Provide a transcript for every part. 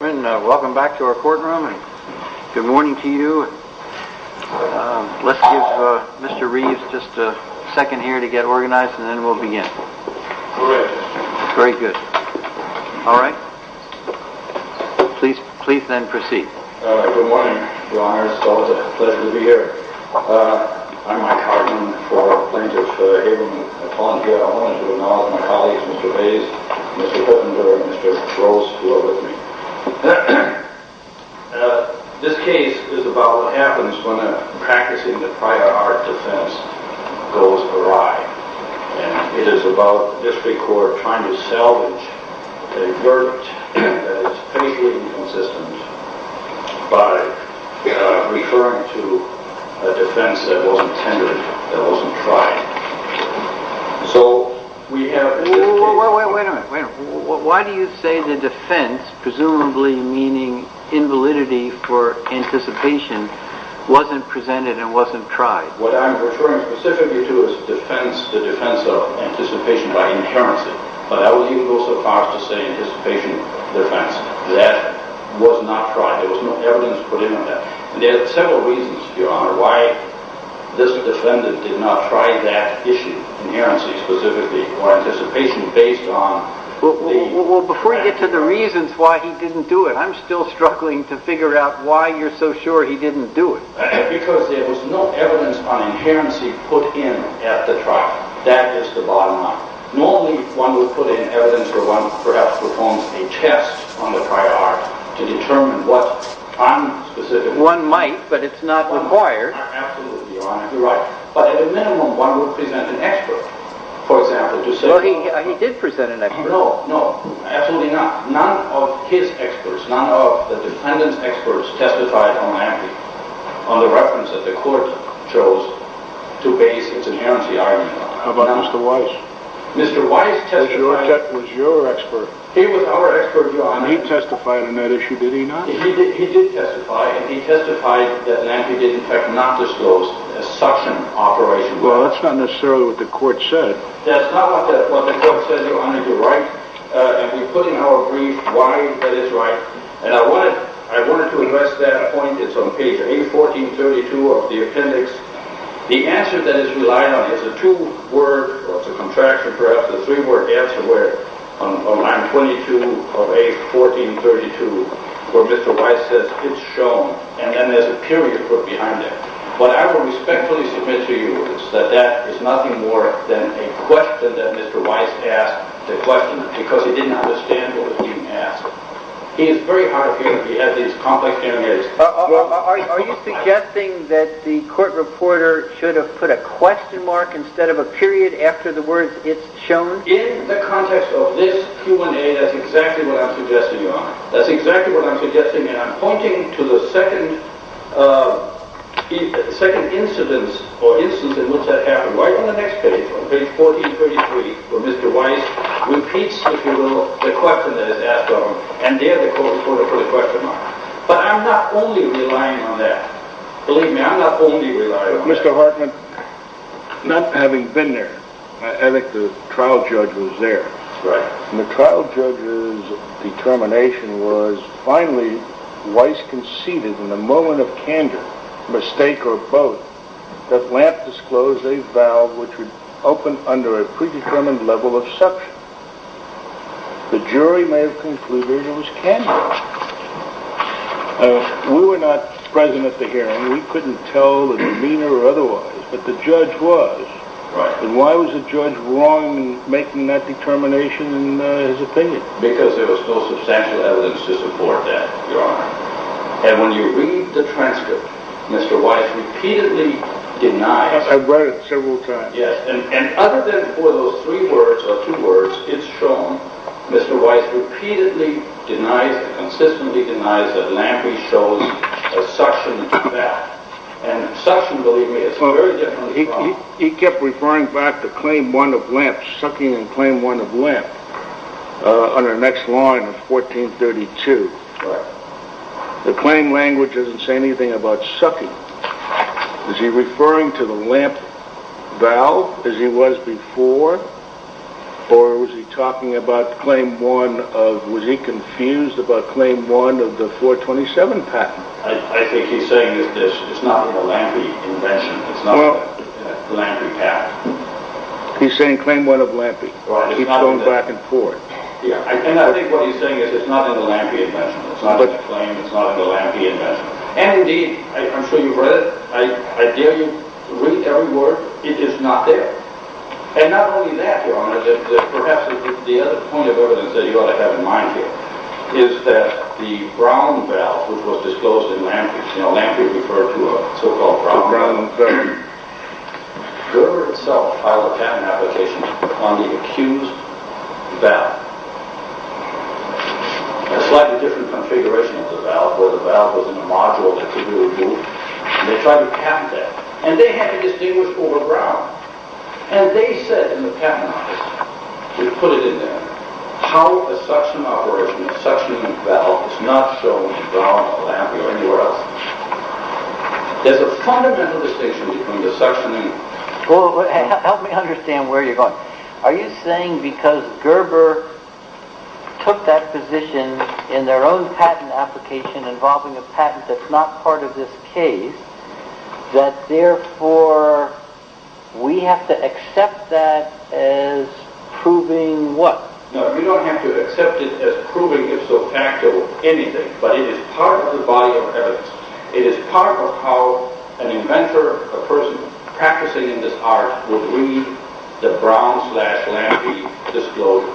Welcome back to our courtroom. Good morning to you. Let's give Mr. Reeves just a second here to get organized and then we'll begin. Very good. Alright. Please then proceed. Good morning, Your Honor. It's always a pleasure to be here. I'm Mike Hartman for Plaintiff Haberman. Upon here, I want to acknowledge my colleagues, Mr. Hayes, Mr. Hindenburg, and Mr. Gross, who are with me. This case is about what happens when a practicing the prior art defense goes awry and it is about the district court trying to salvage a verdict that is faithfully inconsistent by referring to a defense that wasn't tendered, that wasn't tried. Wait a minute. Why do you say the defense, presumably meaning invalidity for anticipation, wasn't presented and wasn't tried? What I'm referring specifically to is the defense of anticipation by inherency, but I wouldn't even go so far as to say anticipation defense. That was not tried. There was no evidence put in on that. There are several reasons, Your Honor, why this defendant did not try that issue, inherency specifically, or anticipation based on… Well, before we get to the reasons why he didn't do it, I'm still struggling to figure out why you're so sure he didn't do it. Because there was no evidence on inherency put in at the trial. That is the bottom line. Normally, one would put in evidence, or one perhaps performs a test on the prior art to determine what… One might, but it's not required. Absolutely, Your Honor, you're right. But at a minimum, one would present an expert, for example, to say… No, no, absolutely not. None of his experts, none of the defendant's experts testified on Nanti on the reference that the court chose to base its inherency argument on. How about Mr. Weiss? Mr. Weiss testified… He was your expert. He was our expert, Your Honor. And he testified on that issue, did he not? He did testify, and he testified that Nanti did, in fact, not disclose a suction operation. Well, that's not necessarily what the court said. That's not what the court said, Your Honor. You're right. And we put in our brief why that is right. And I wanted to address that point. It's on page A1432 of the appendix. The answer that is relied on is a two-word, or it's a contraction, perhaps a three-word answer where, on line 22 of A1432, where Mr. Weiss says, and then there's a period put behind it. What I will respectfully submit to you is that that is nothing more than a question that Mr. Weiss asked the questioner because he didn't understand what was being asked. He is very hard of hearing if he has these complex areas. Are you suggesting that the court reporter should have put a question mark instead of a period after the words, it's shown? In the context of this Q&A, that's exactly what I'm suggesting, Your Honor. That's exactly what I'm suggesting, and I'm pointing to the second instance in which that happened. Right on the next page, on page 1433, where Mr. Weiss repeats the question that is asked of him, and there the court reporter put a question mark. But I'm not only relying on that. Believe me, I'm not only relying on that. Mr. Hartman, not having been there, I think the trial judge was there, and the trial judge's determination was finally, Weiss conceded in a moment of candor, mistake or both, that Lamp disclosed a valve which would open under a predetermined level of suction. The jury may have concluded it was candor. We were not present at the hearing. We couldn't tell the demeanor or otherwise, but the judge was. And why was the judge wrong in making that determination in his opinion? Because there was no substantial evidence to support that, Your Honor. And when you read the transcript, Mr. Weiss repeatedly denies it. I've read it several times. Yes, and other than for those three words or two words, it's shown Mr. Weiss repeatedly denies, consistently denies that Lampley shows a suction valve. And suction, believe me, is very different. He kept referring back to Claim 1 of Lamp, sucking in Claim 1 of Lamp on the next line of 1432. Right. The claim language doesn't say anything about sucking. Is he referring to the Lamp valve as he was before? Or was he talking about Claim 1 of, was he confused about Claim 1 of the 427 patent? I think he's saying it's not a Lampley invention. It's not a Lampley patent. He's saying Claim 1 of Lampley. He keeps going back and forth. I think what he's saying is it's not a Lampley invention. It's not a claim, it's not a Lampley invention. And indeed, I'm sure you've read it. I dare you to read every word. It is not there. And not only that, Your Honor, but perhaps the other point of evidence that you ought to have in mind here is that the Brown valve, which was disclosed in Lampley's, you know, Lampley referred to a so-called Brown valve. The Brown valve. Gerber itself filed a patent application on the accused valve. A slightly different configuration of the valve, where the valve was in a module that could be removed. And they tried to patent that. And they had to distinguish over Brown. And they said in the patent office, they put it in there, how a suction operation, a suctioning valve is not shown in Brown or Lampley or anywhere else. There's a fundamental distinction between the suctioning… Well, help me understand where you're going. Are you saying because Gerber took that position in their own patent application involving a patent that's not part of this case, that therefore we have to accept that as proving what? No, you don't have to accept it as proving if so factual, anything. But it is part of the body of evidence. It is part of how an inventor, a person practicing in this art would read the Brown slash Lampley disclosure.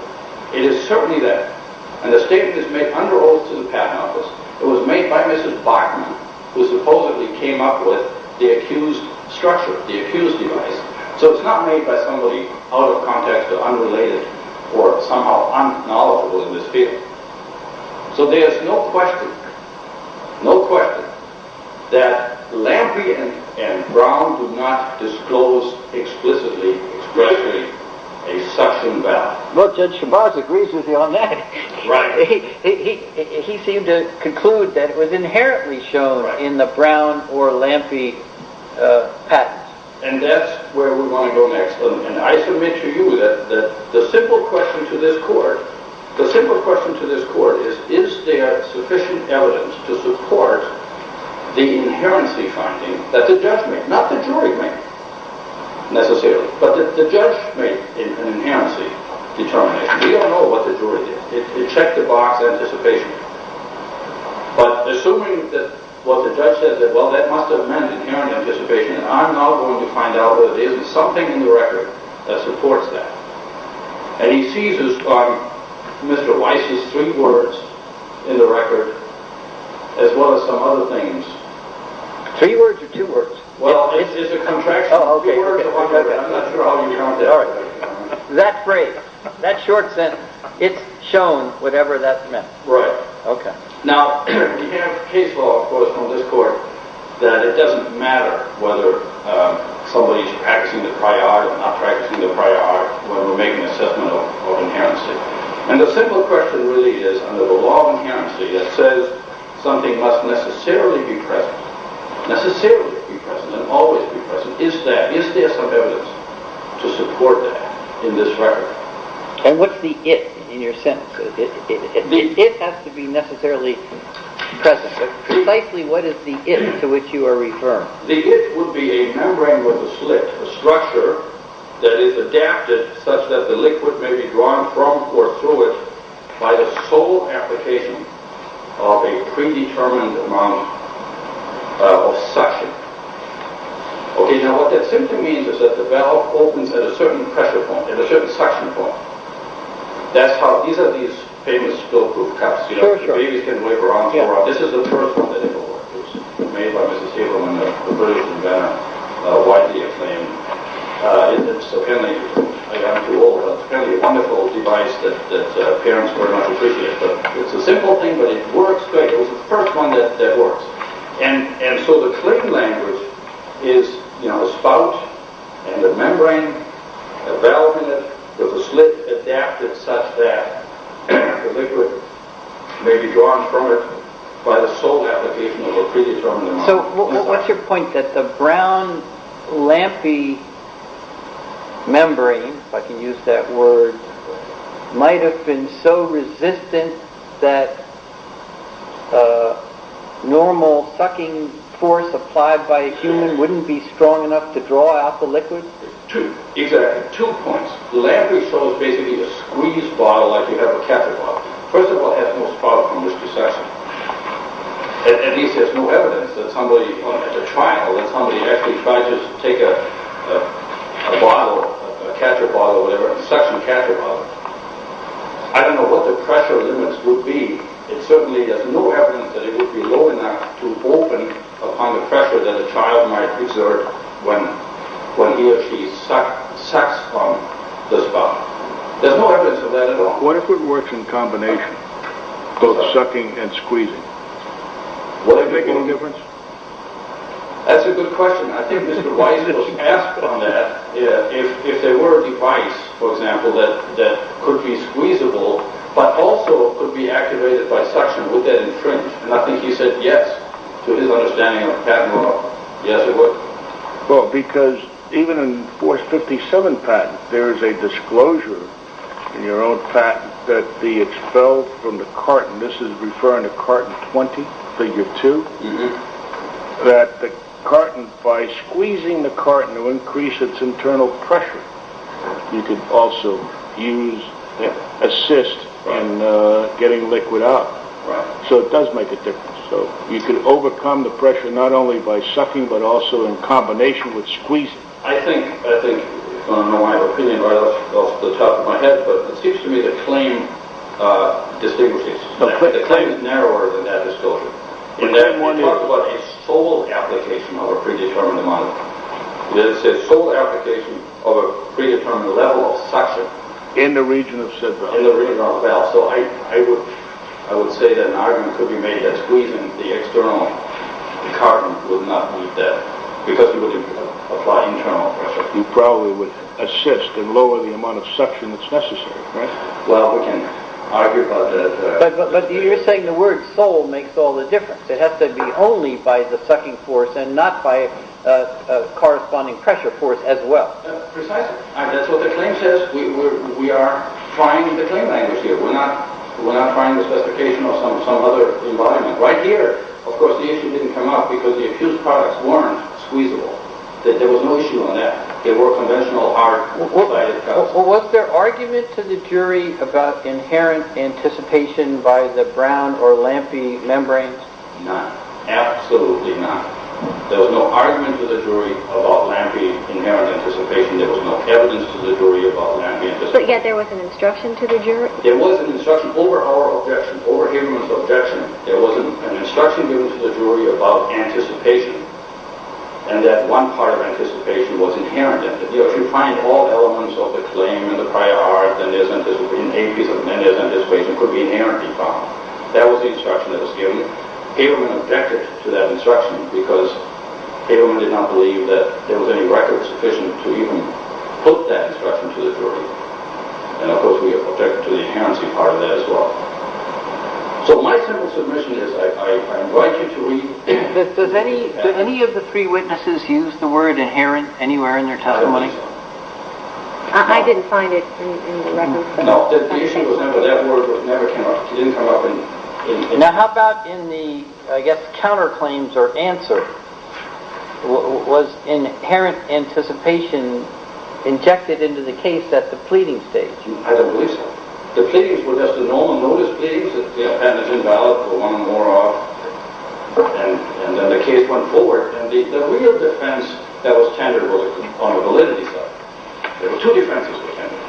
It is certainly that. And the statement is made under oath to the patent office. It was made by Mrs. Bachman, who supposedly came up with the accused structure, the accused device. So it's not made by somebody out of context or unrelated or somehow unknowledgeable in this field. So there's no question, no question that Lampley and Brown do not disclose explicitly, especially a suction valve. Well, Judge Shabazz agrees with you on that. He seemed to conclude that it was inherently shown in the Brown or Lampley patents. And that's where we want to go next. And I submit to you that the simple question to this court, the simple question to this court is, is there sufficient evidence to support the inherency finding that the judge made? Not the jury made necessarily, but the judge made an inherency determination. We all know what the jury did. It checked the box anticipation. But assuming that what the judge said that, well, that must have meant inherent anticipation, I'm now going to find out that there is something in the record that supports that. And he sees Mr. Weiss's three words in the record as well as some other things. Three words or two words? Well, it's a contraction. I'm not sure how you count that. That phrase, that short sentence, it's shown whatever that meant. Right. Now, we have case law, of course, from this court that it doesn't matter whether somebody's practicing the prior, not practicing the prior, whether we're making an assessment of inherency. And the simple question really is, under the law of inherency, it says something must necessarily be present, necessarily be present and always be present. Is that, is there some evidence to support that in this record? And what's the it in your sentence? It has to be necessarily present. Precisely what is the it to which you are referring? The it would be a membrane with a slit, a structure that is adapted such that the liquid may be drawn from or through it by the sole application of a predetermined amount of suction. Okay, now what that simply means is that the valve opens at a certain pressure point, at a certain suction point. That's how, these are these famous spill-proof cups. For sure. The babies can wiggle around. This is the first one that ever worked. It was made by Mrs. Cableman, the British inventor, widely acclaimed. And it's apparently, I got to do all the, it's apparently a wonderful device that parents very much appreciate. But it's a simple thing, but it works great. It was the first one that works. And so the click language is, you know, a spout and a membrane, a valve in it with a slit adapted such that the liquid may be drawn from it by the sole application of a predetermined amount of suction. So what's your point that the brown, lampy membrane, if I can use that word, might have been so resistant that normal sucking force applied by a human wouldn't be strong enough to draw out the liquid? Two, exactly. Two points. The lampy sole is basically a squeezed bottle like you have a catcher bottle. First of all, it has no spot of humus to suction. At least there's no evidence that somebody, as a trial, that somebody actually tried to take a bottle, a catcher bottle or whatever, a suction catcher bottle. I don't know what the pressure limits would be. It certainly, there's no evidence that it would be low enough to open upon the pressure that a child might exert when he or she sucks from the spout. There's no evidence of that at all. What if it works in combination, both sucking and squeezing? Would that make any difference? That's a good question. I think Mr. Weiss was asked on that if there were a device, for example, that could be squeezable, but also could be activated by suction. Would that entrench? I think he said yes, to his understanding of patent law. Yes, it would. Well, because even in Force 57 patent, there's a disclosure in your own patent that the expelled from the carton, and this is referring to Carton 20, Figure 2, that the carton, by squeezing the carton to increase its internal pressure, you could also use, assist in getting liquid out. So it does make a difference. You could overcome the pressure not only by sucking, but also in combination with squeezing. I think, I don't know why I have an opinion right off the top of my head, but it seems to me the claim is narrower than that disclosure. In that one you talked about a sole application of a predetermined amount. You didn't say sole application of a predetermined level of suction. In the region of said valve. In the region of valve. So I would say that an argument could be made that squeezing the external carton would not do that, because you wouldn't apply internal pressure. You probably would assist and lower the amount of suction that's necessary. Right? Well, we can argue about that. But you're saying the word sole makes all the difference. It has to be only by the sucking force and not by a corresponding pressure force as well. Precisely. That's what the claim says. We are trying the claim language here. We're not trying the specification of some other environment. Right here, of course, the issue didn't come up because the accused products weren't squeezable. There was no issue on that. They were conventional art. Was there argument to the jury about inherent anticipation by the brown or lampy membranes? No. Absolutely not. There was no argument to the jury about lampy inherent anticipation. There was no evidence to the jury about lampy anticipation. But yet there was an instruction to the jury? There was an instruction over oral objection, over hearing of objection. There was an instruction given to the jury about anticipation. And that one part of anticipation was inherent. If you find all elements of the claim in the prior art, then there's an anticipation. It could be inherently found. That was the instruction that was given. Averman objected to that instruction because Averman did not believe that there was any record sufficient to even put that instruction to the jury. And, of course, we objected to the inherency part of that as well. So my simple submission is I invite you to read. Did any of the three witnesses use the word inherent anywhere in their testimony? I don't believe so. I didn't find it in the record. No. The issue was that that word never came up. It didn't come up. Now how about in the, I guess, counterclaims or answer? Was inherent anticipation injected into the case at the pleading stage? I don't believe so. The pleadings were just the normal notice pleadings that the appendage invalid for one or more of. And then the case went forward. And the real defense that was tendered was on the validity side. There were two defenses that were tendered.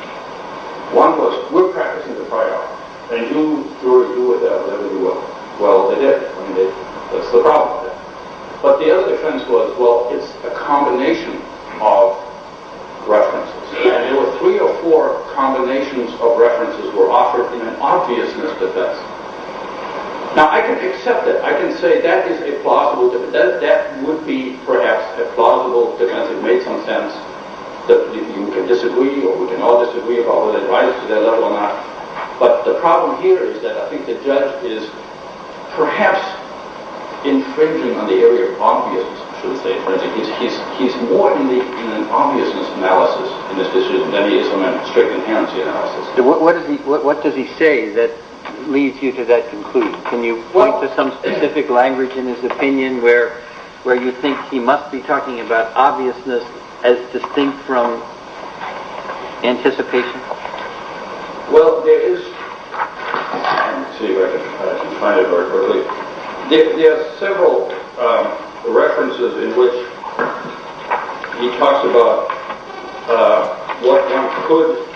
One was we're practicing the prior art, and you, jury, do whatever you want. Well, they did. I mean, that's the problem with that. But the other defense was, well, it's a combination of references. And there were three or four combinations of references were offered in an obviousness defense. Now, I can accept it. I can say that is a plausible defense. That would be, perhaps, a plausible defense. It made some sense. You can disagree, or we can all disagree about whether it rises to that level or not. But the problem here is that I think the judge is perhaps infringing on the area of obviousness. I shouldn't say infringing. He's more in an obviousness analysis in this case than he is in a strict inherency analysis. What does he say that leads you to that conclusion? Can you point to some specific language in his opinion where you think he must be talking about obviousness as distinct from anticipation? Well, there is several references in which he talks about what one could... Okay.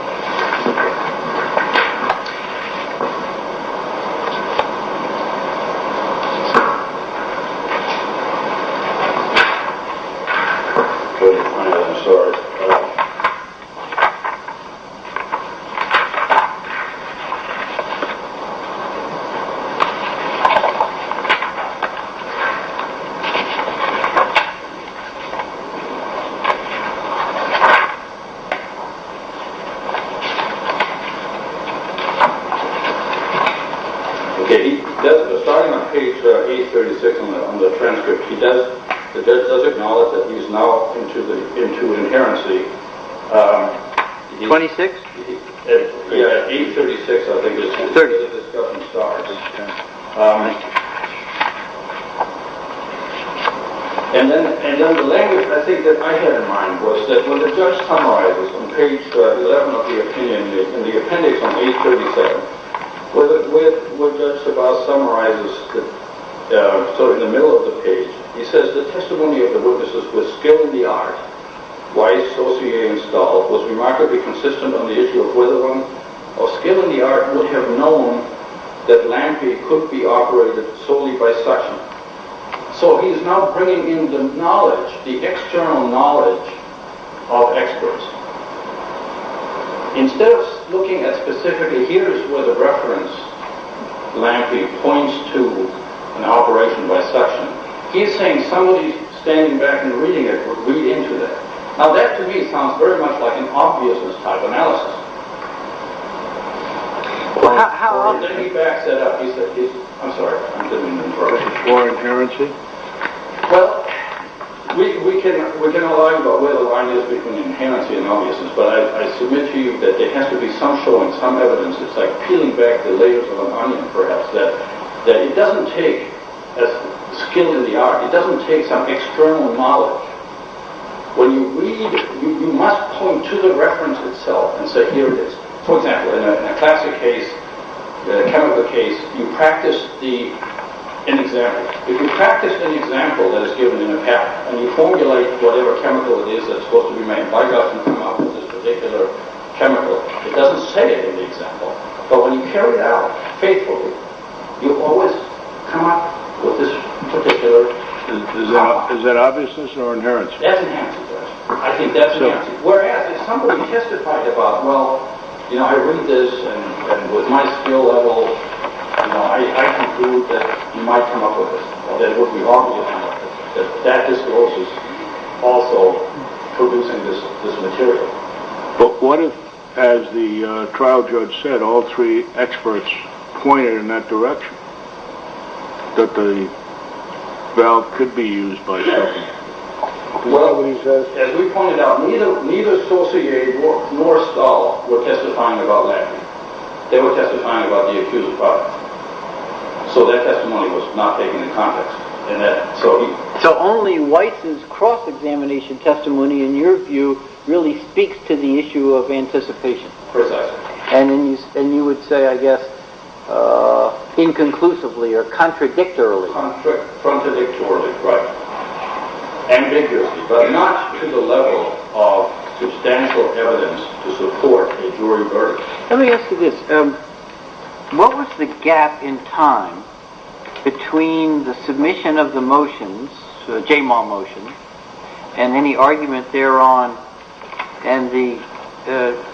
I'm sorry. Okay. Starting on page 836 on the transcript, the judge does acknowledge that he is now into inherency. 26? Yeah, 836, I think, is when the discussion starts. Okay. And then the language, I think, that I had in mind was that when the judge summarizes on page 11 of the opinion, in the appendix on page 37, where Judge Sebas summarizes, sort of in the middle of the page, he says, "...with skill in the art, why Saussure installed was remarkably consistent on the issue of whether one of skill in the art would have known that LAMPE could be operated solely by suction." So he is now bringing in the knowledge, the external knowledge of experts. Instead of looking at specifically, here is where the reference, LAMPE, points to an operation by suction. He is saying somebody standing back and reading it would read into that. Now that, to me, sounds very much like an obviousness-type analysis. How obvious? Well, then he backs that up. I'm sorry. I'm getting a little nervous. More inherency? Well, we can all argue about where the line is between inherency and obviousness, but I submit to you that there has to be some showing, some evidence that's like peeling back the layers of an onion, perhaps, that it doesn't take skill in the art. It doesn't take some external knowledge. When you read it, you must point to the reference itself and say, here it is. For example, in a classic case, a chemical case, you practice an example. If you practice an example that is given in a pack and you formulate whatever chemical it is that's supposed to be made, why doesn't it come up with this particular chemical? It doesn't say it in the example. But when you carry it out faithfully, you always come up with this particular example. Is that obviousness or inherency? That's inherency. I think that's inherency. Whereas if somebody testified about, well, you know, I read this, and with my skill level, I can prove that you might come up with this, or that it would be obvious, that that discloses also, convincing this material. But what if, as the trial judge said, all three experts pointed in that direction, that the valve could be used by someone? Well, as we pointed out, neither Saussure nor Stahl were testifying about Lampkin. They were testifying about the accused product. So that testimony was not taken in context. So only Weiss's cross-examination testimony, in your view, really speaks to the issue of anticipation. Precisely. And you would say, I guess, inconclusively or contradictorily. Contradictorily, right. Ambiguously. But not to the level of substantial evidence to support a jury verdict. Let me ask you this. What was the gap in time between the submission of the motions, the Jaymall motion, and any argument thereon, and the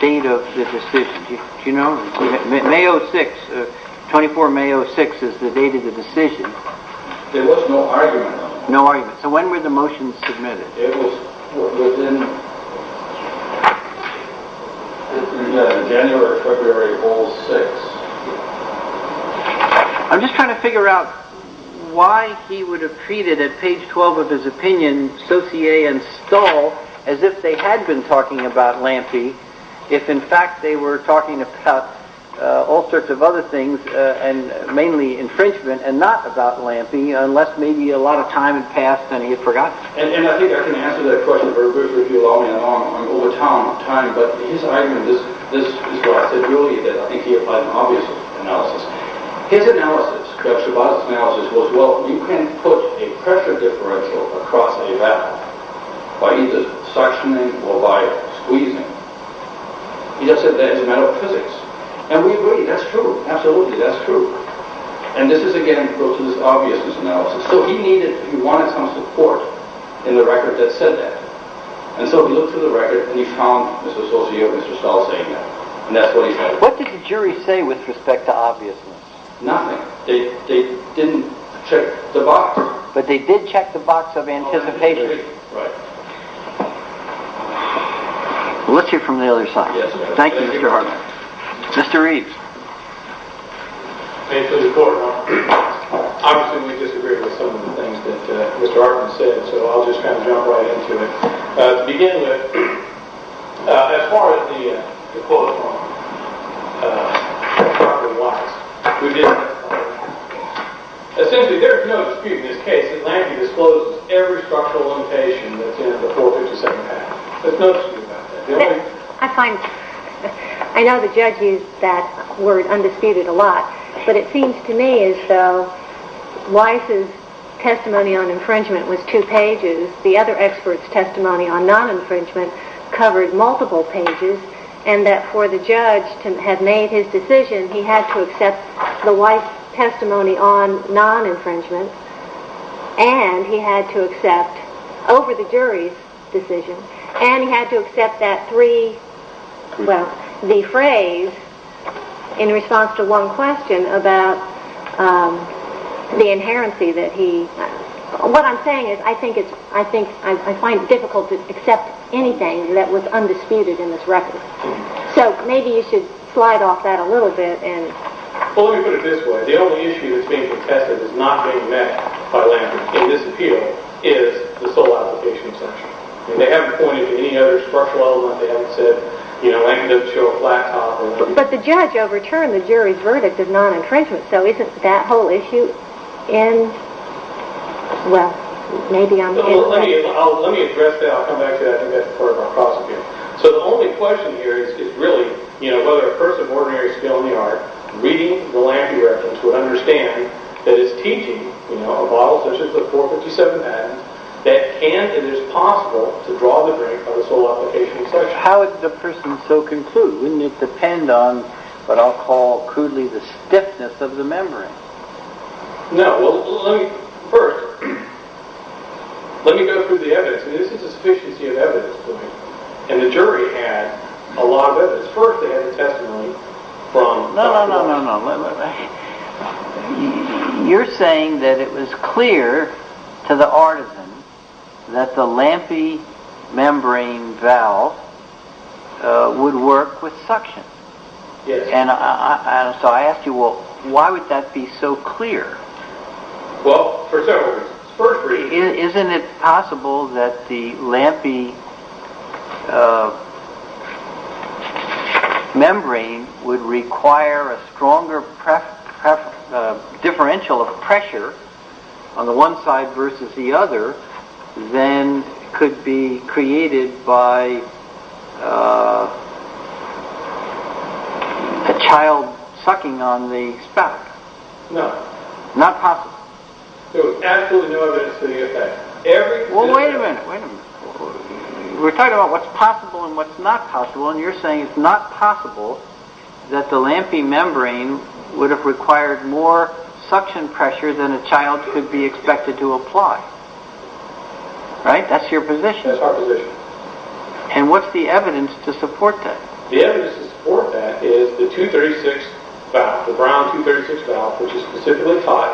date of the decision? Do you know? May 06, 24 May 06 is the date of the decision. There was no argument on that. No argument. So when were the motions submitted? It was within January, February, all six. I'm just trying to figure out why he would have treated, at page 12 of his opinion, Saussure and Stahl as if they had been talking about Lampkin, if in fact they were talking about all sorts of other things, and mainly infringement, and not about Lampkin, unless maybe a lot of time had passed and he had forgotten. And I think I can answer that question very briefly if you allow me. I'm over time, but his argument, this is what I said earlier, that I think he applied an obvious analysis. His analysis, Shabazz's analysis, was, well, you can't put a pressure differential across a valve by either suctioning or by squeezing. He just said that as a matter of physics. And we agree, that's true. Absolutely, that's true. And this is, again, close to this obviousness analysis. So he needed, he wanted some support in the record that said that. And so he looked through the record and he found Mr. Saussure and Mr. Stahl saying that. And that's what he said. What did the jury say with respect to obviousness? Nothing. They didn't check the box. But they did check the box of anticipation. Let's hear from the other side. Thank you, Mr. Hartman. Mr. Reeves. Thank you. Obviously, we disagreed with some of the things that Mr. Hartman said, so I'll just kind of jump right into it. To begin with, as far as the quote from Hartman was, we didn't have a problem with that. Essentially, there is no dispute in this case that Landry disclosed every structural limitation that's in the fourth or the second half. There's no dispute about that. I know the judge used that word, undisputed, a lot. But it seems to me as though Weiss's testimony on infringement was two pages. The other expert's testimony on non-infringement covered multiple pages. And that for the judge to have made his decision, he had to accept the Weiss testimony on non-infringement, and he had to accept over the jury's decision, and he had to accept the phrase in response to one question about the inherency that he... What I'm saying is I find it difficult to accept anything that was undisputed in this record. So maybe you should slide off that a little bit. Well, let me put it this way. The only issue that's being contested that's not being met by Landry in this appeal is the soil allocation exemption. They haven't pointed to any other structural element. They haven't said, you know, land up to a flat top. But the judge overturned the jury's verdict of non-infringement, so isn't that whole issue in... Well, maybe I'm... Let me address that. I'll come back to that in the next part of our process here. So the only question here is really, you know, whether a person of ordinary skill in the art reading the Landry records would understand that it's teaching, you know, a bottle such as the 457N that can and is possible to draw the drink on the soil allocation exemption. How would the person so conclude? Wouldn't it depend on what I'll call crudely the stiffness of the membrane? No. Well, let me... First, let me go through the evidence. And this is a sufficiency of evidence point. And the jury had a lot of evidence. First, they had the testimony from Dr. Landry. No, no, no, no, no. You're saying that it was clear to the artisan that the lampy membrane valve would work with suction. Yes. And so I ask you, well, why would that be so clear? Well, for several reasons. First reason... that the lampy membrane would require a stronger differential of pressure on the one side versus the other than could be created by a child sucking on the spout. No. Not possible. So absolutely no evidence for the effect. Well, wait a minute. Wait a minute. We're talking about what's possible and what's not possible, and you're saying it's not possible that the lampy membrane would have required more suction pressure than a child could be expected to apply. Right? That's your position. That's our position. And what's the evidence to support that? The evidence to support that is the 236 valve, the brown 236 valve, which is specifically tied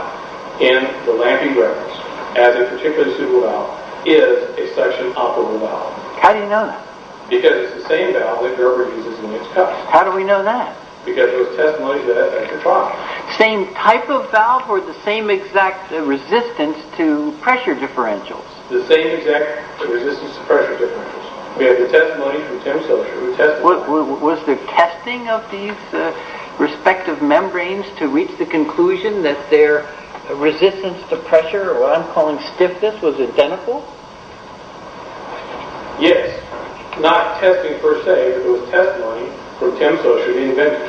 in the lampy membranes. As a particularly suitable valve, is a suction operable valve. How do you know that? Because it's the same valve that Gerber uses in his cups. How do we know that? Because there's testimony that that's a problem. Same type of valve or the same exact resistance to pressure differentials? The same exact resistance to pressure differentials. We have the testimony from Tim Socher who tested that. Was the testing of these respective membranes to reach the conclusion that their resistance to pressure or what I'm calling stiffness was identical? Yes. Not testing per se, but it was testimony from Tim Socher, the inventor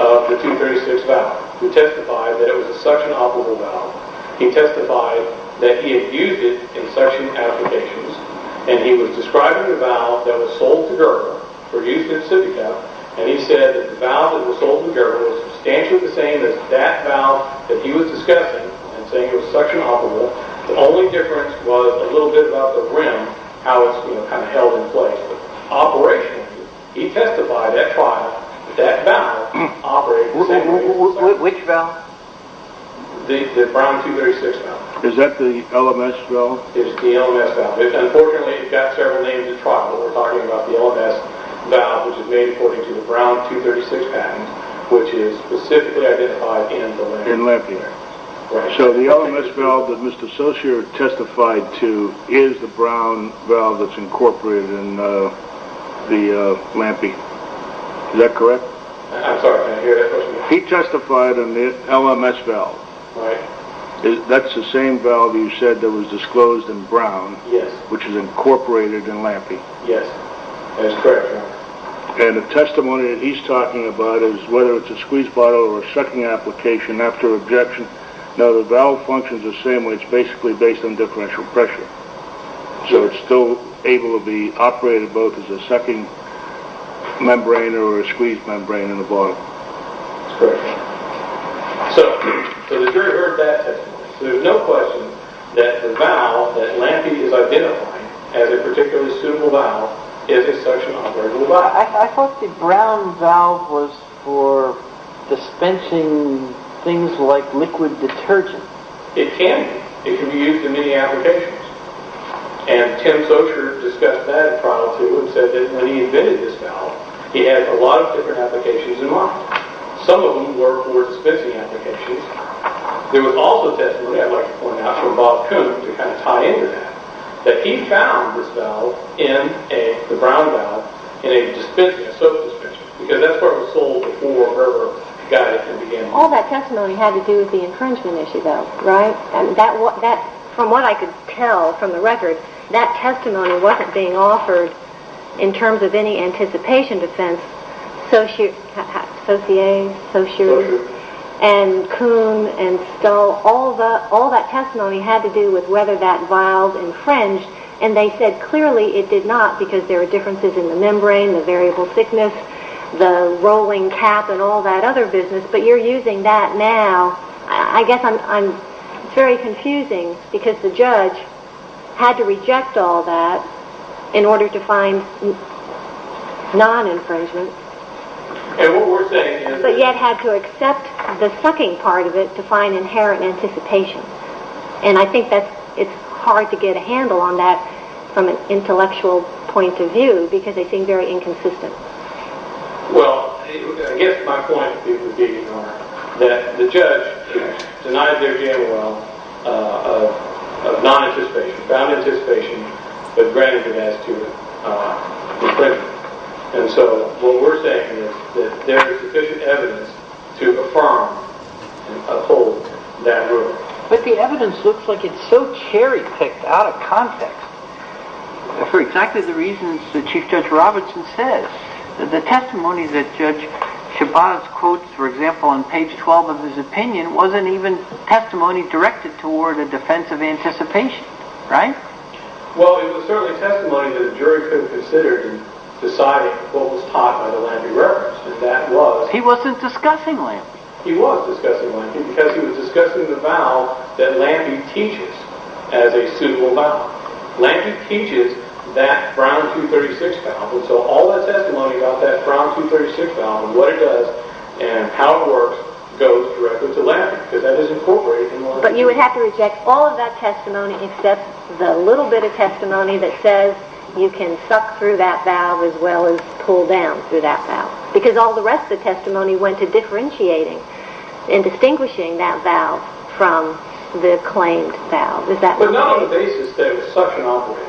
of the 236 valve, who testified that it was a suction operable valve. He testified that he had used it in suction applications, and he was describing the valve that was sold to Gerber for use in a sippy cup, and he said that the valve that was sold to Gerber was substantially the same as that valve that he was discussing and saying it was suction operable. The only difference was a little bit about the rim, how it's held in place. But operationally, he testified at trial that that valve operated the same way. Which valve? The Brown 236 valve. Is that the LMS valve? It's the LMS valve. Unfortunately, it got several names at trial, but we're talking about the LMS valve, which is made according to the Brown 236 patent, which is specifically identified in the Lampy. In Lampy. So the LMS valve that Mr. Socher testified to is the Brown valve that's incorporated in the Lampy. Is that correct? I'm sorry, I didn't hear that question. He testified on the LMS valve. Right. That's the same valve you said that was disclosed in Brown, which is incorporated in Lampy. Yes. That's correct. And the testimony that he's talking about is whether it's a squeeze bottle or a sucking application after objection. No, the valve functions the same way. It's basically based on differential pressure. So it's still able to be operated both as a sucking membrane or a squeeze membrane in the bottle. That's correct. So the jury heard that testimony. So there's no question that the valve that Lampy is identifying as a particularly suitable valve is a suction-operated valve. I thought the Brown valve was for dispensing things like liquid detergent. It can be. It can be used in many applications. And Tim Socher discussed that prior to and said that when he invented this valve, he had a lot of different applications in mind. Some of them were for dispensing applications. There was also testimony, I'd like to point out, from Bob Kuhn to kind of tie into that, that he found this valve, the Brown valve, in a dispensing, a soap dispensing. Because that's where it was sold before or wherever he got it. All that testimony had to do with the infringement issue, though, right? From what I could tell from the record, that testimony wasn't being offered in terms of any anticipation defense. Socher and Kuhn and Stull, all that testimony had to do with whether that valve infringed. And they said clearly it did not because there were differences in the membrane, the variable thickness, the rolling cap and all that other business. But you're using that now. I guess it's very confusing because the judge had to reject all that in order to find non-infringement. And what we're saying is that they had to accept the sucking part of it to find inherent anticipation. And I think it's hard to get a handle on that from an intellectual point of view because they seem very inconsistent. Well, I guess my point is that the judge denied their general of non-anticipation, found anticipation, but granted it as to infringement. And so what we're saying is that there is sufficient evidence to affirm and uphold that ruling. But the evidence looks like it's so cherry-picked out of context for exactly the reasons that Chief Judge Robertson says. The testimony that Judge Shabazz quotes, for example, on page 12 of his opinion wasn't even testimony directed toward a defense of anticipation, right? Well, it was certainly testimony that a jury could consider in deciding what was taught by the Landy reference. And that was... He wasn't discussing Landy. He was discussing Landy because he was discussing the vow that Landy teaches as a suitable vow. Landy teaches that Brown 236 vow. And so all that testimony about that Brown 236 vow and what it does and how it works goes directly to Landy because that is incorporated in Landy's... But you would have to reject all of that testimony except the little bit of testimony that says you can suck through that vow as well as pull down through that vow because all the rest of the testimony went to differentiating and distinguishing that vow from the claimed vow. Does that make sense? But not on the basis that it was suction operated.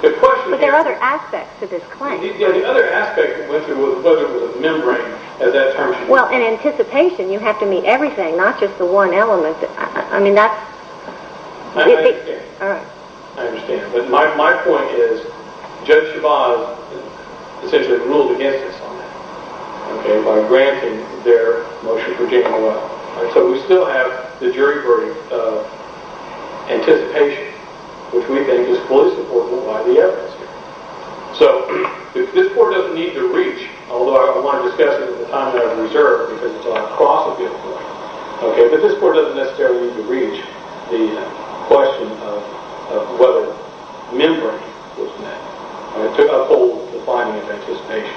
But there are other aspects to this claim, right? Yeah, the other aspect that went through was whether it was a membrane, as that term... Well, in anticipation, you have to meet everything, not just the one element. I mean, that's... I understand. But my point is Judge Chavez essentially ruled against us on that by granting their motion for JMOL. So we still have the jury verdict of anticipation, which we think is fully supportable by the evidence here. So this court doesn't need to reach, although I want to discuss it at the time that I reserve because it's across a bill court, but this court doesn't necessarily need to reach the question of whether membrane was met to uphold the finding of anticipation.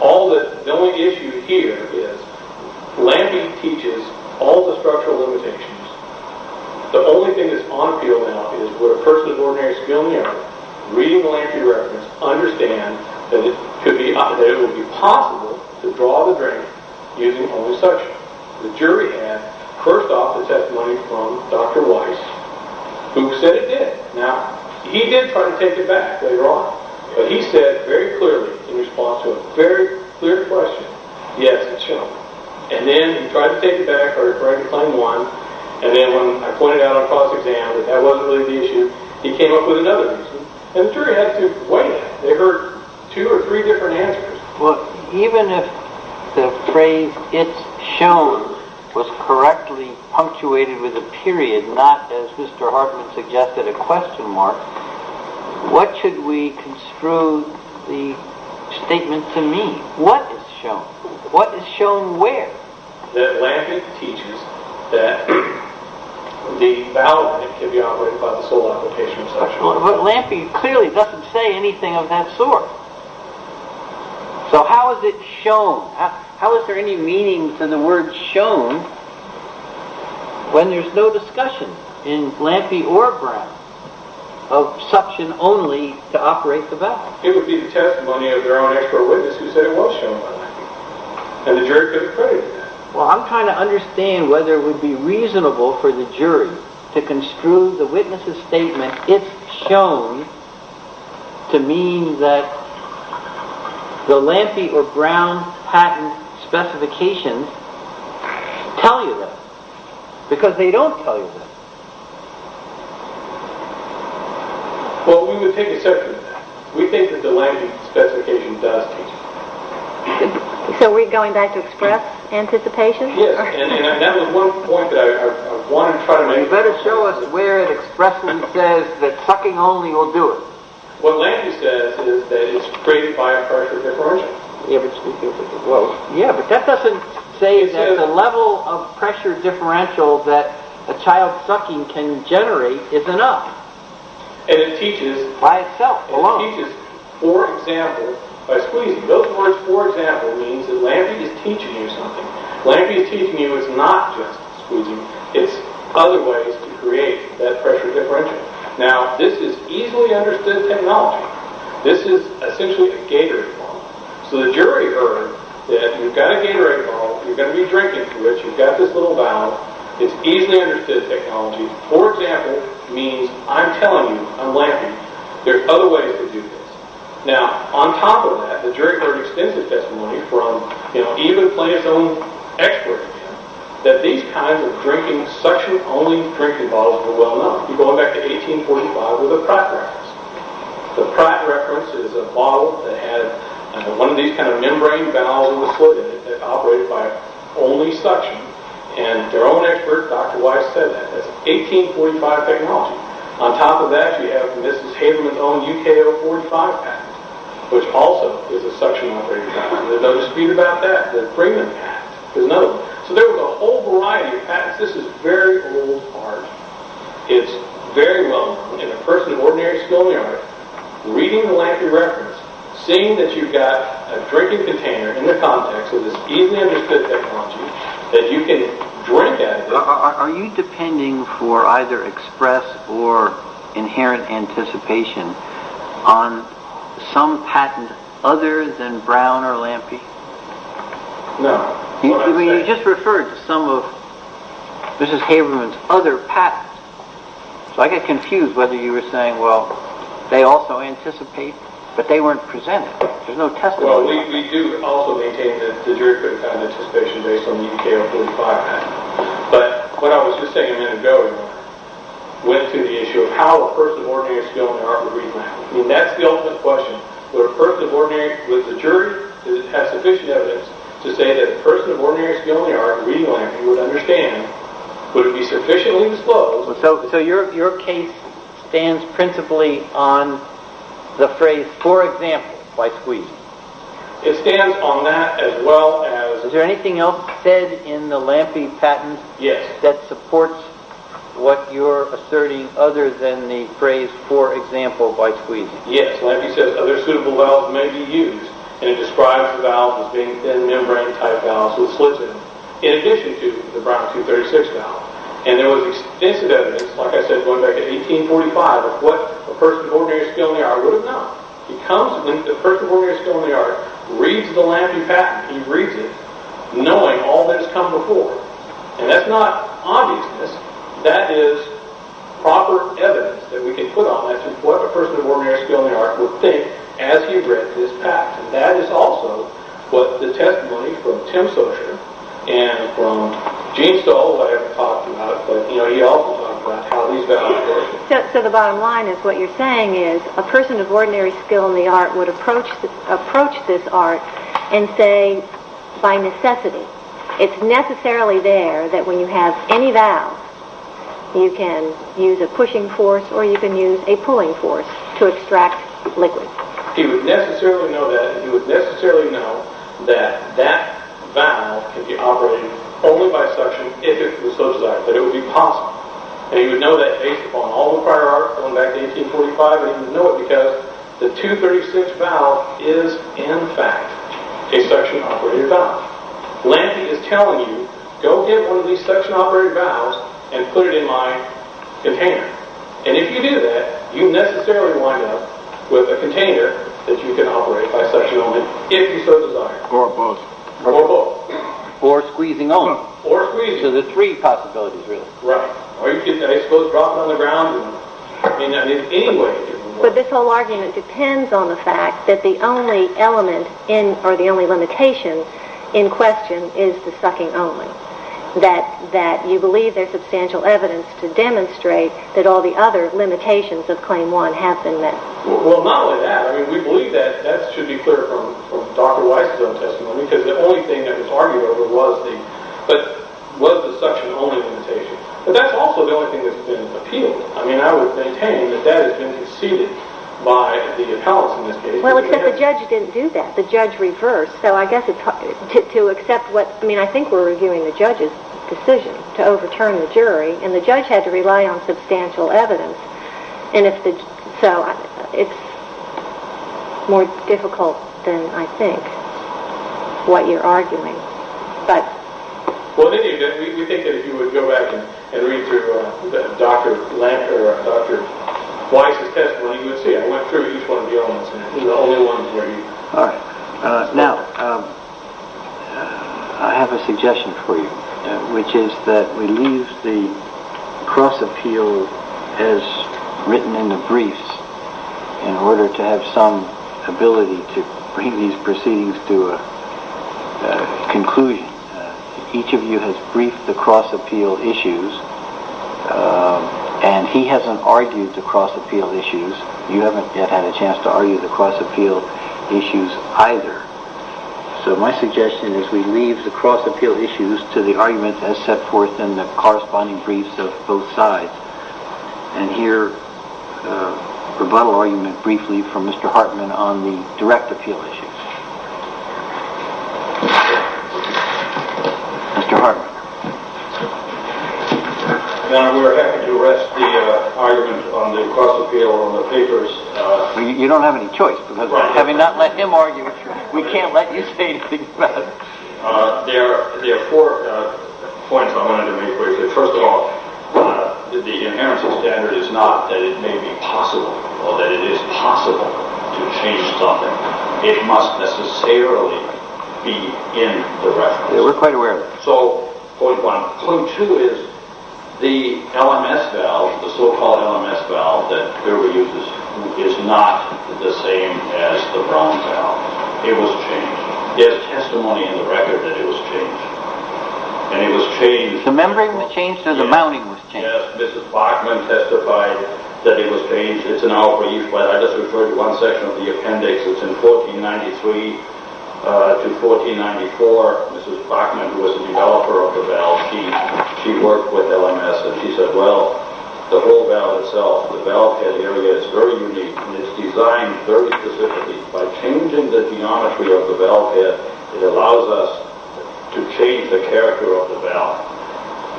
The only issue here is Lampey teaches all the structural limitations. The only thing that's on appeal now is would a person of ordinary skill and merit, reading Lampey's reference, understand that it would be possible to draw the drain using only suction. The jury had, first off, the testimony from Dr. Weiss, who said it did. Now, he did try to take it back later on, but he said very clearly in response to a very clear question, yes, it's shown. And then he tried to take it back, or he tried to claim one, and then when I pointed out on cross-exam that that wasn't really the issue, he came up with another reason, and the jury had to wait. They heard two or three different answers. Well, even if the phrase, it's shown, was correctly punctuated with a period, not, as Mr. Hartman suggested, a question mark, what should we construe the statement to mean? What is shown? What is shown where? That Lampey teaches that the valve can be operated by the sole application of suction. But Lampey clearly doesn't say anything of that sort. So how is it shown? How is there any meaning to the word shown when there's no discussion in Lampey or Brown of suction only to operate the valve? It would be the testimony of their own expert witness who said it was shown by Lampey. And the jury couldn't credit that. Well, I'm trying to understand to construe the witness's statement, it's shown to mean that the Lampey or Brown patent specifications tell you that. Because they don't tell you that. Well, we would take a section of that. We think that the Lampey specification does tell you that. So we're going back to express anticipation? Yes, and that was one point that I wanted to try to make. You better show us where it expressly says that sucking only will do it. What Lampey says is that it's created by a pressure differential. Yeah, but that doesn't say that the level of pressure differential that a child sucking can generate is enough. By itself, alone. It teaches, for example, by squeezing. Those words, for example, means that Lampey is teaching you something. Lampey is teaching you it's not just squeezing. It's other ways to create that pressure differential. Now, this is easily understood technology. This is essentially a Gatorade bottle. So the jury heard that you've got a Gatorade bottle. You're going to be drinking from it. You've got this little valve. It's easily understood technology. For example, it means I'm telling you, I'm Lampey, there's other ways to do this. Now, on top of that, the jury heard extensive testimony from even Plant's own expert, that these kinds of suction-only drinking bottles were well-known. You're going back to 1845 with the Pratt Reference. The Pratt Reference is a bottle that had one of these kind of membrane valves in the slit in it that operated by only suction. And their own expert, Dr. Weiss, said that. That's 1845 technology. On top of that, you have Mrs. Haberman's own UK 045 patent, which also is a suction-operated product. There's no dispute about that. The Freeman Act is another one. So there was a whole variety of patents. This is very old art. It's very well-known. And a person at an ordinary schoolyard, reading the Lampey Reference, seeing that you've got a drinking container in the context of this easily understood technology that you can drink out of... Are you depending for either express or inherent anticipation on some patent other than Brown or Lampey? No. You just referred to some of Mrs. Haberman's other patents. So I get confused whether you were saying, well, they also anticipate, but they weren't presented. There's no testimony about that. Well, we do also maintain the jury-critic kind of anticipation based on the UK 045 patent. But what I was just saying a minute ago went to the issue of how a person at an ordinary schoolyard would read Lampey. I mean, that's the ultimate question. Would a person at an ordinary... Would the jury have sufficient evidence to say that a person at an ordinary schoolyard reading Lampey would understand? Would it be sufficiently disclosed? So your case stands principally on the phrase, for example, by squeezing. It stands on that as well as... Is there anything else said in the Lampey patent that supports what you're asserting other than the phrase, for example, by squeezing? Yes. Lampey says other suitable valves may be used, and it describes the valve as being thin membrane-type valves with slits in them, in addition to the Brown 236 valve. And there was extensive evidence, like I said, going back to 1845, of what a person at an ordinary schoolyard would have known. When a person at an ordinary schoolyard reads the Lampey patent, he reads it knowing all that has come before. And that's not obviousness. That is proper evidence that we can put on it as to what a person of ordinary skill in the art would think as he read this patent. That is also what the testimony from Tim Socher and from Gene Stoll, who I haven't talked about, but he also talked about how these valves work. So the bottom line is what you're saying is a person of ordinary skill in the art would approach this art and say, by necessity, it's necessarily there that when you have any valve, you can use a pushing force or you can use a pulling force to extract liquid. He would necessarily know that, and he would necessarily know that that valve can be operated only by suction if it was Socher's art, that it would be possible. And he would know that based upon all the prior art going back to 1845, and he would know it because the 236 valve is in fact a suction-operated valve. Lampy is telling you, go get one of these suction-operated valves and put it in my container. And if you do that, you necessarily wind up with a container that you can operate by suction only, if you so desire. Or both. Or both. Or squeezing only. Or squeezing. So there are three possibilities, really. Right. Or you can, I suppose, drop it on the ground in any way that you're comfortable with. But this whole argument depends on the fact that the only element or the only limitation in question is the sucking only. That you believe there's substantial evidence to demonstrate that all the other limitations of Claim 1 have been met. Well, not only that. I mean, we believe that that should be clear from Dr. Weiss's own testimony, because the only thing that was argued over was the suction-only limitation. But that's also the only thing that's been appealed. I mean, I would maintain that that has been conceded by the appellants in this case. Well, except the judge didn't do that. The judge reversed. So I guess to accept what... I mean, I think we're reviewing the judge's decision to overturn the jury, and the judge had to rely on substantial evidence. And if the... So it's more difficult than I think what you're arguing. But... Well, we think that if you would go back and read through Dr. Weiss's testimony, you would see I went through each one of the elements, and these are the only ones where you... All right. Now, I have a suggestion for you, which is that we leave the cross-appeal as written in the briefs in order to have some ability to bring these proceedings to a conclusion. Each of you has briefed the cross-appeal issues, and he hasn't argued the cross-appeal issues. You haven't yet had a chance to argue the cross-appeal issues either. So my suggestion is we leave the cross-appeal issues to the argument as set forth in the corresponding briefs of both sides, and hear rebuttal argument briefly from Mr. Hartman on the direct appeal issues. Mr. Hartman. We're happy to rest the argument on the cross-appeal on the papers. You don't have any choice, because having not let him argue, we can't let you say anything about it. There are four points I wanted to make briefly. First of all, the inheritance standard is not that it may be possible or that it is possible to change something. It must necessarily be in the reference. We're quite aware of that. So, point one. Point two is the LMS valve, the so-called LMS valve, that is not the same as the Brown valve. It was changed. There's testimony in the record that it was changed. And it was changed. The membrane was changed, and the mounting was changed. Yes, Mrs. Bachman testified that it was changed. It's an hour brief, but I just referred to one section of the appendix. It's in 1493 to 1494. Mrs. Bachman, who was the developer of the valve, she worked with LMS, and she said, well, the whole valve itself, the valve head area is very unique, and it's designed very specifically. By changing the geometry of the valve head, it allows us to change the character of the valve.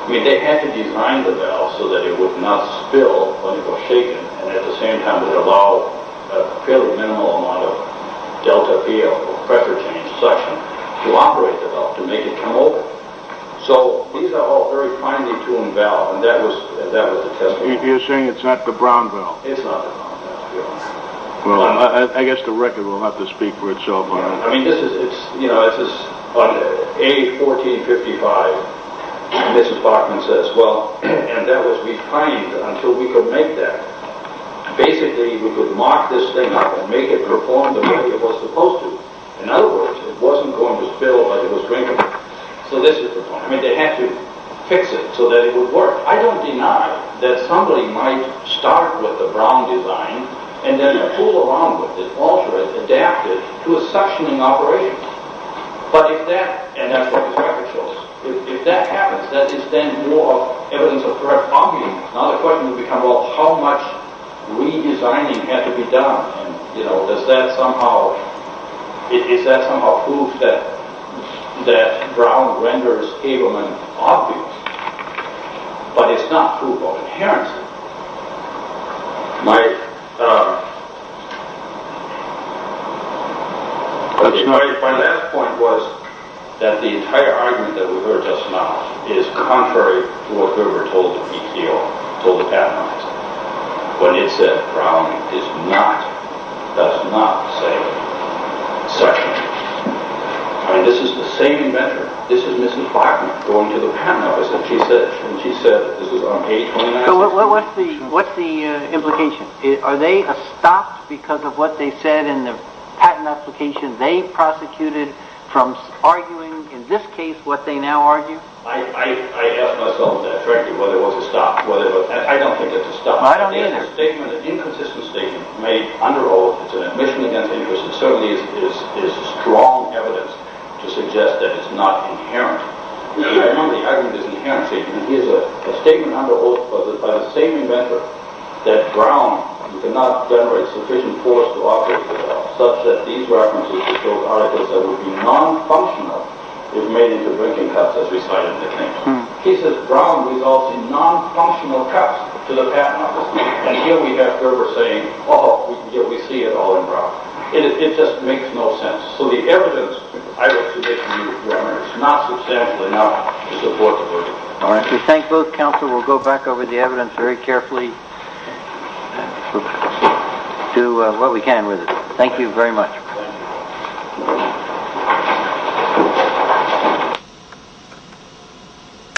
I mean, they had to design the valve so that it would not spill when it was shaken, and at the same time, it allowed a fairly minimal amount of delta P, or pressure change suction, to operate the valve, to make it come over. So, these are all very finely tuned valves, and that was the testimony. You're saying it's not the Brown valve? It's not the Brown valve. Well, I guess the record will have to speak for itself on it. I mean, this is, you know, on page 1455, Mrs. Bachman says, well, and that was refined until we could make that. Basically, we could mock this thing up and make it perform the way it was supposed to. In other words, it wasn't going to spill like it was drinking. So this is the point. I mean, they had to fix it so that it would work. I don't deny that somebody might start with a Brown design, and then fool around with it, alter it, adapt it to a suctioning operation. But if that, and that's what the record shows, if that happens, that is then more evidence of correct functioning. Now the question would become, well, how much redesigning had to be done? And, you know, does that somehow, is that somehow proof that that Brown renders Abelman obvious? But it's not proof of inherence. My, um, my last point was that the entire argument that we heard just now is contrary to what we were told to be here, told to have analyzed. What it said, Brown is not, does not, say suctioning. I mean, this is the same inventor, this is Mrs. Blackman, going to the patent office, and she said, and she said, this was on page 29. So what's the, what's the implication? Are they stopped because of what they said in the patent application they prosecuted from arguing, in this case, what they now argue? I, I, I ask myself that, frankly, whether it was a stop, whether it was, I don't think it's a stop. It is a statement, an inconsistent statement, made under oath. It's an admission against English. It certainly is, is, is strong evidence to suggest that it's not inherent. I remember the argument is an inherent statement. Here's a statement under oath by the same inventor that Brown cannot generate sufficient force to operate without, such that these references would show particles that would be non-functional if made into drinking cups, as we saw in the case. He says Brown results in non-functional cups to the patent office, and here we have Gerber saying, oh, we see it all in Brown. It, it just makes no sense. So the evidence, I would suggest to you that it's not substantial enough to support the verdict. All right. We thank both counsel. We'll go back over the evidence very carefully to what we can with it. Thank you very much. Thank you. Thank you.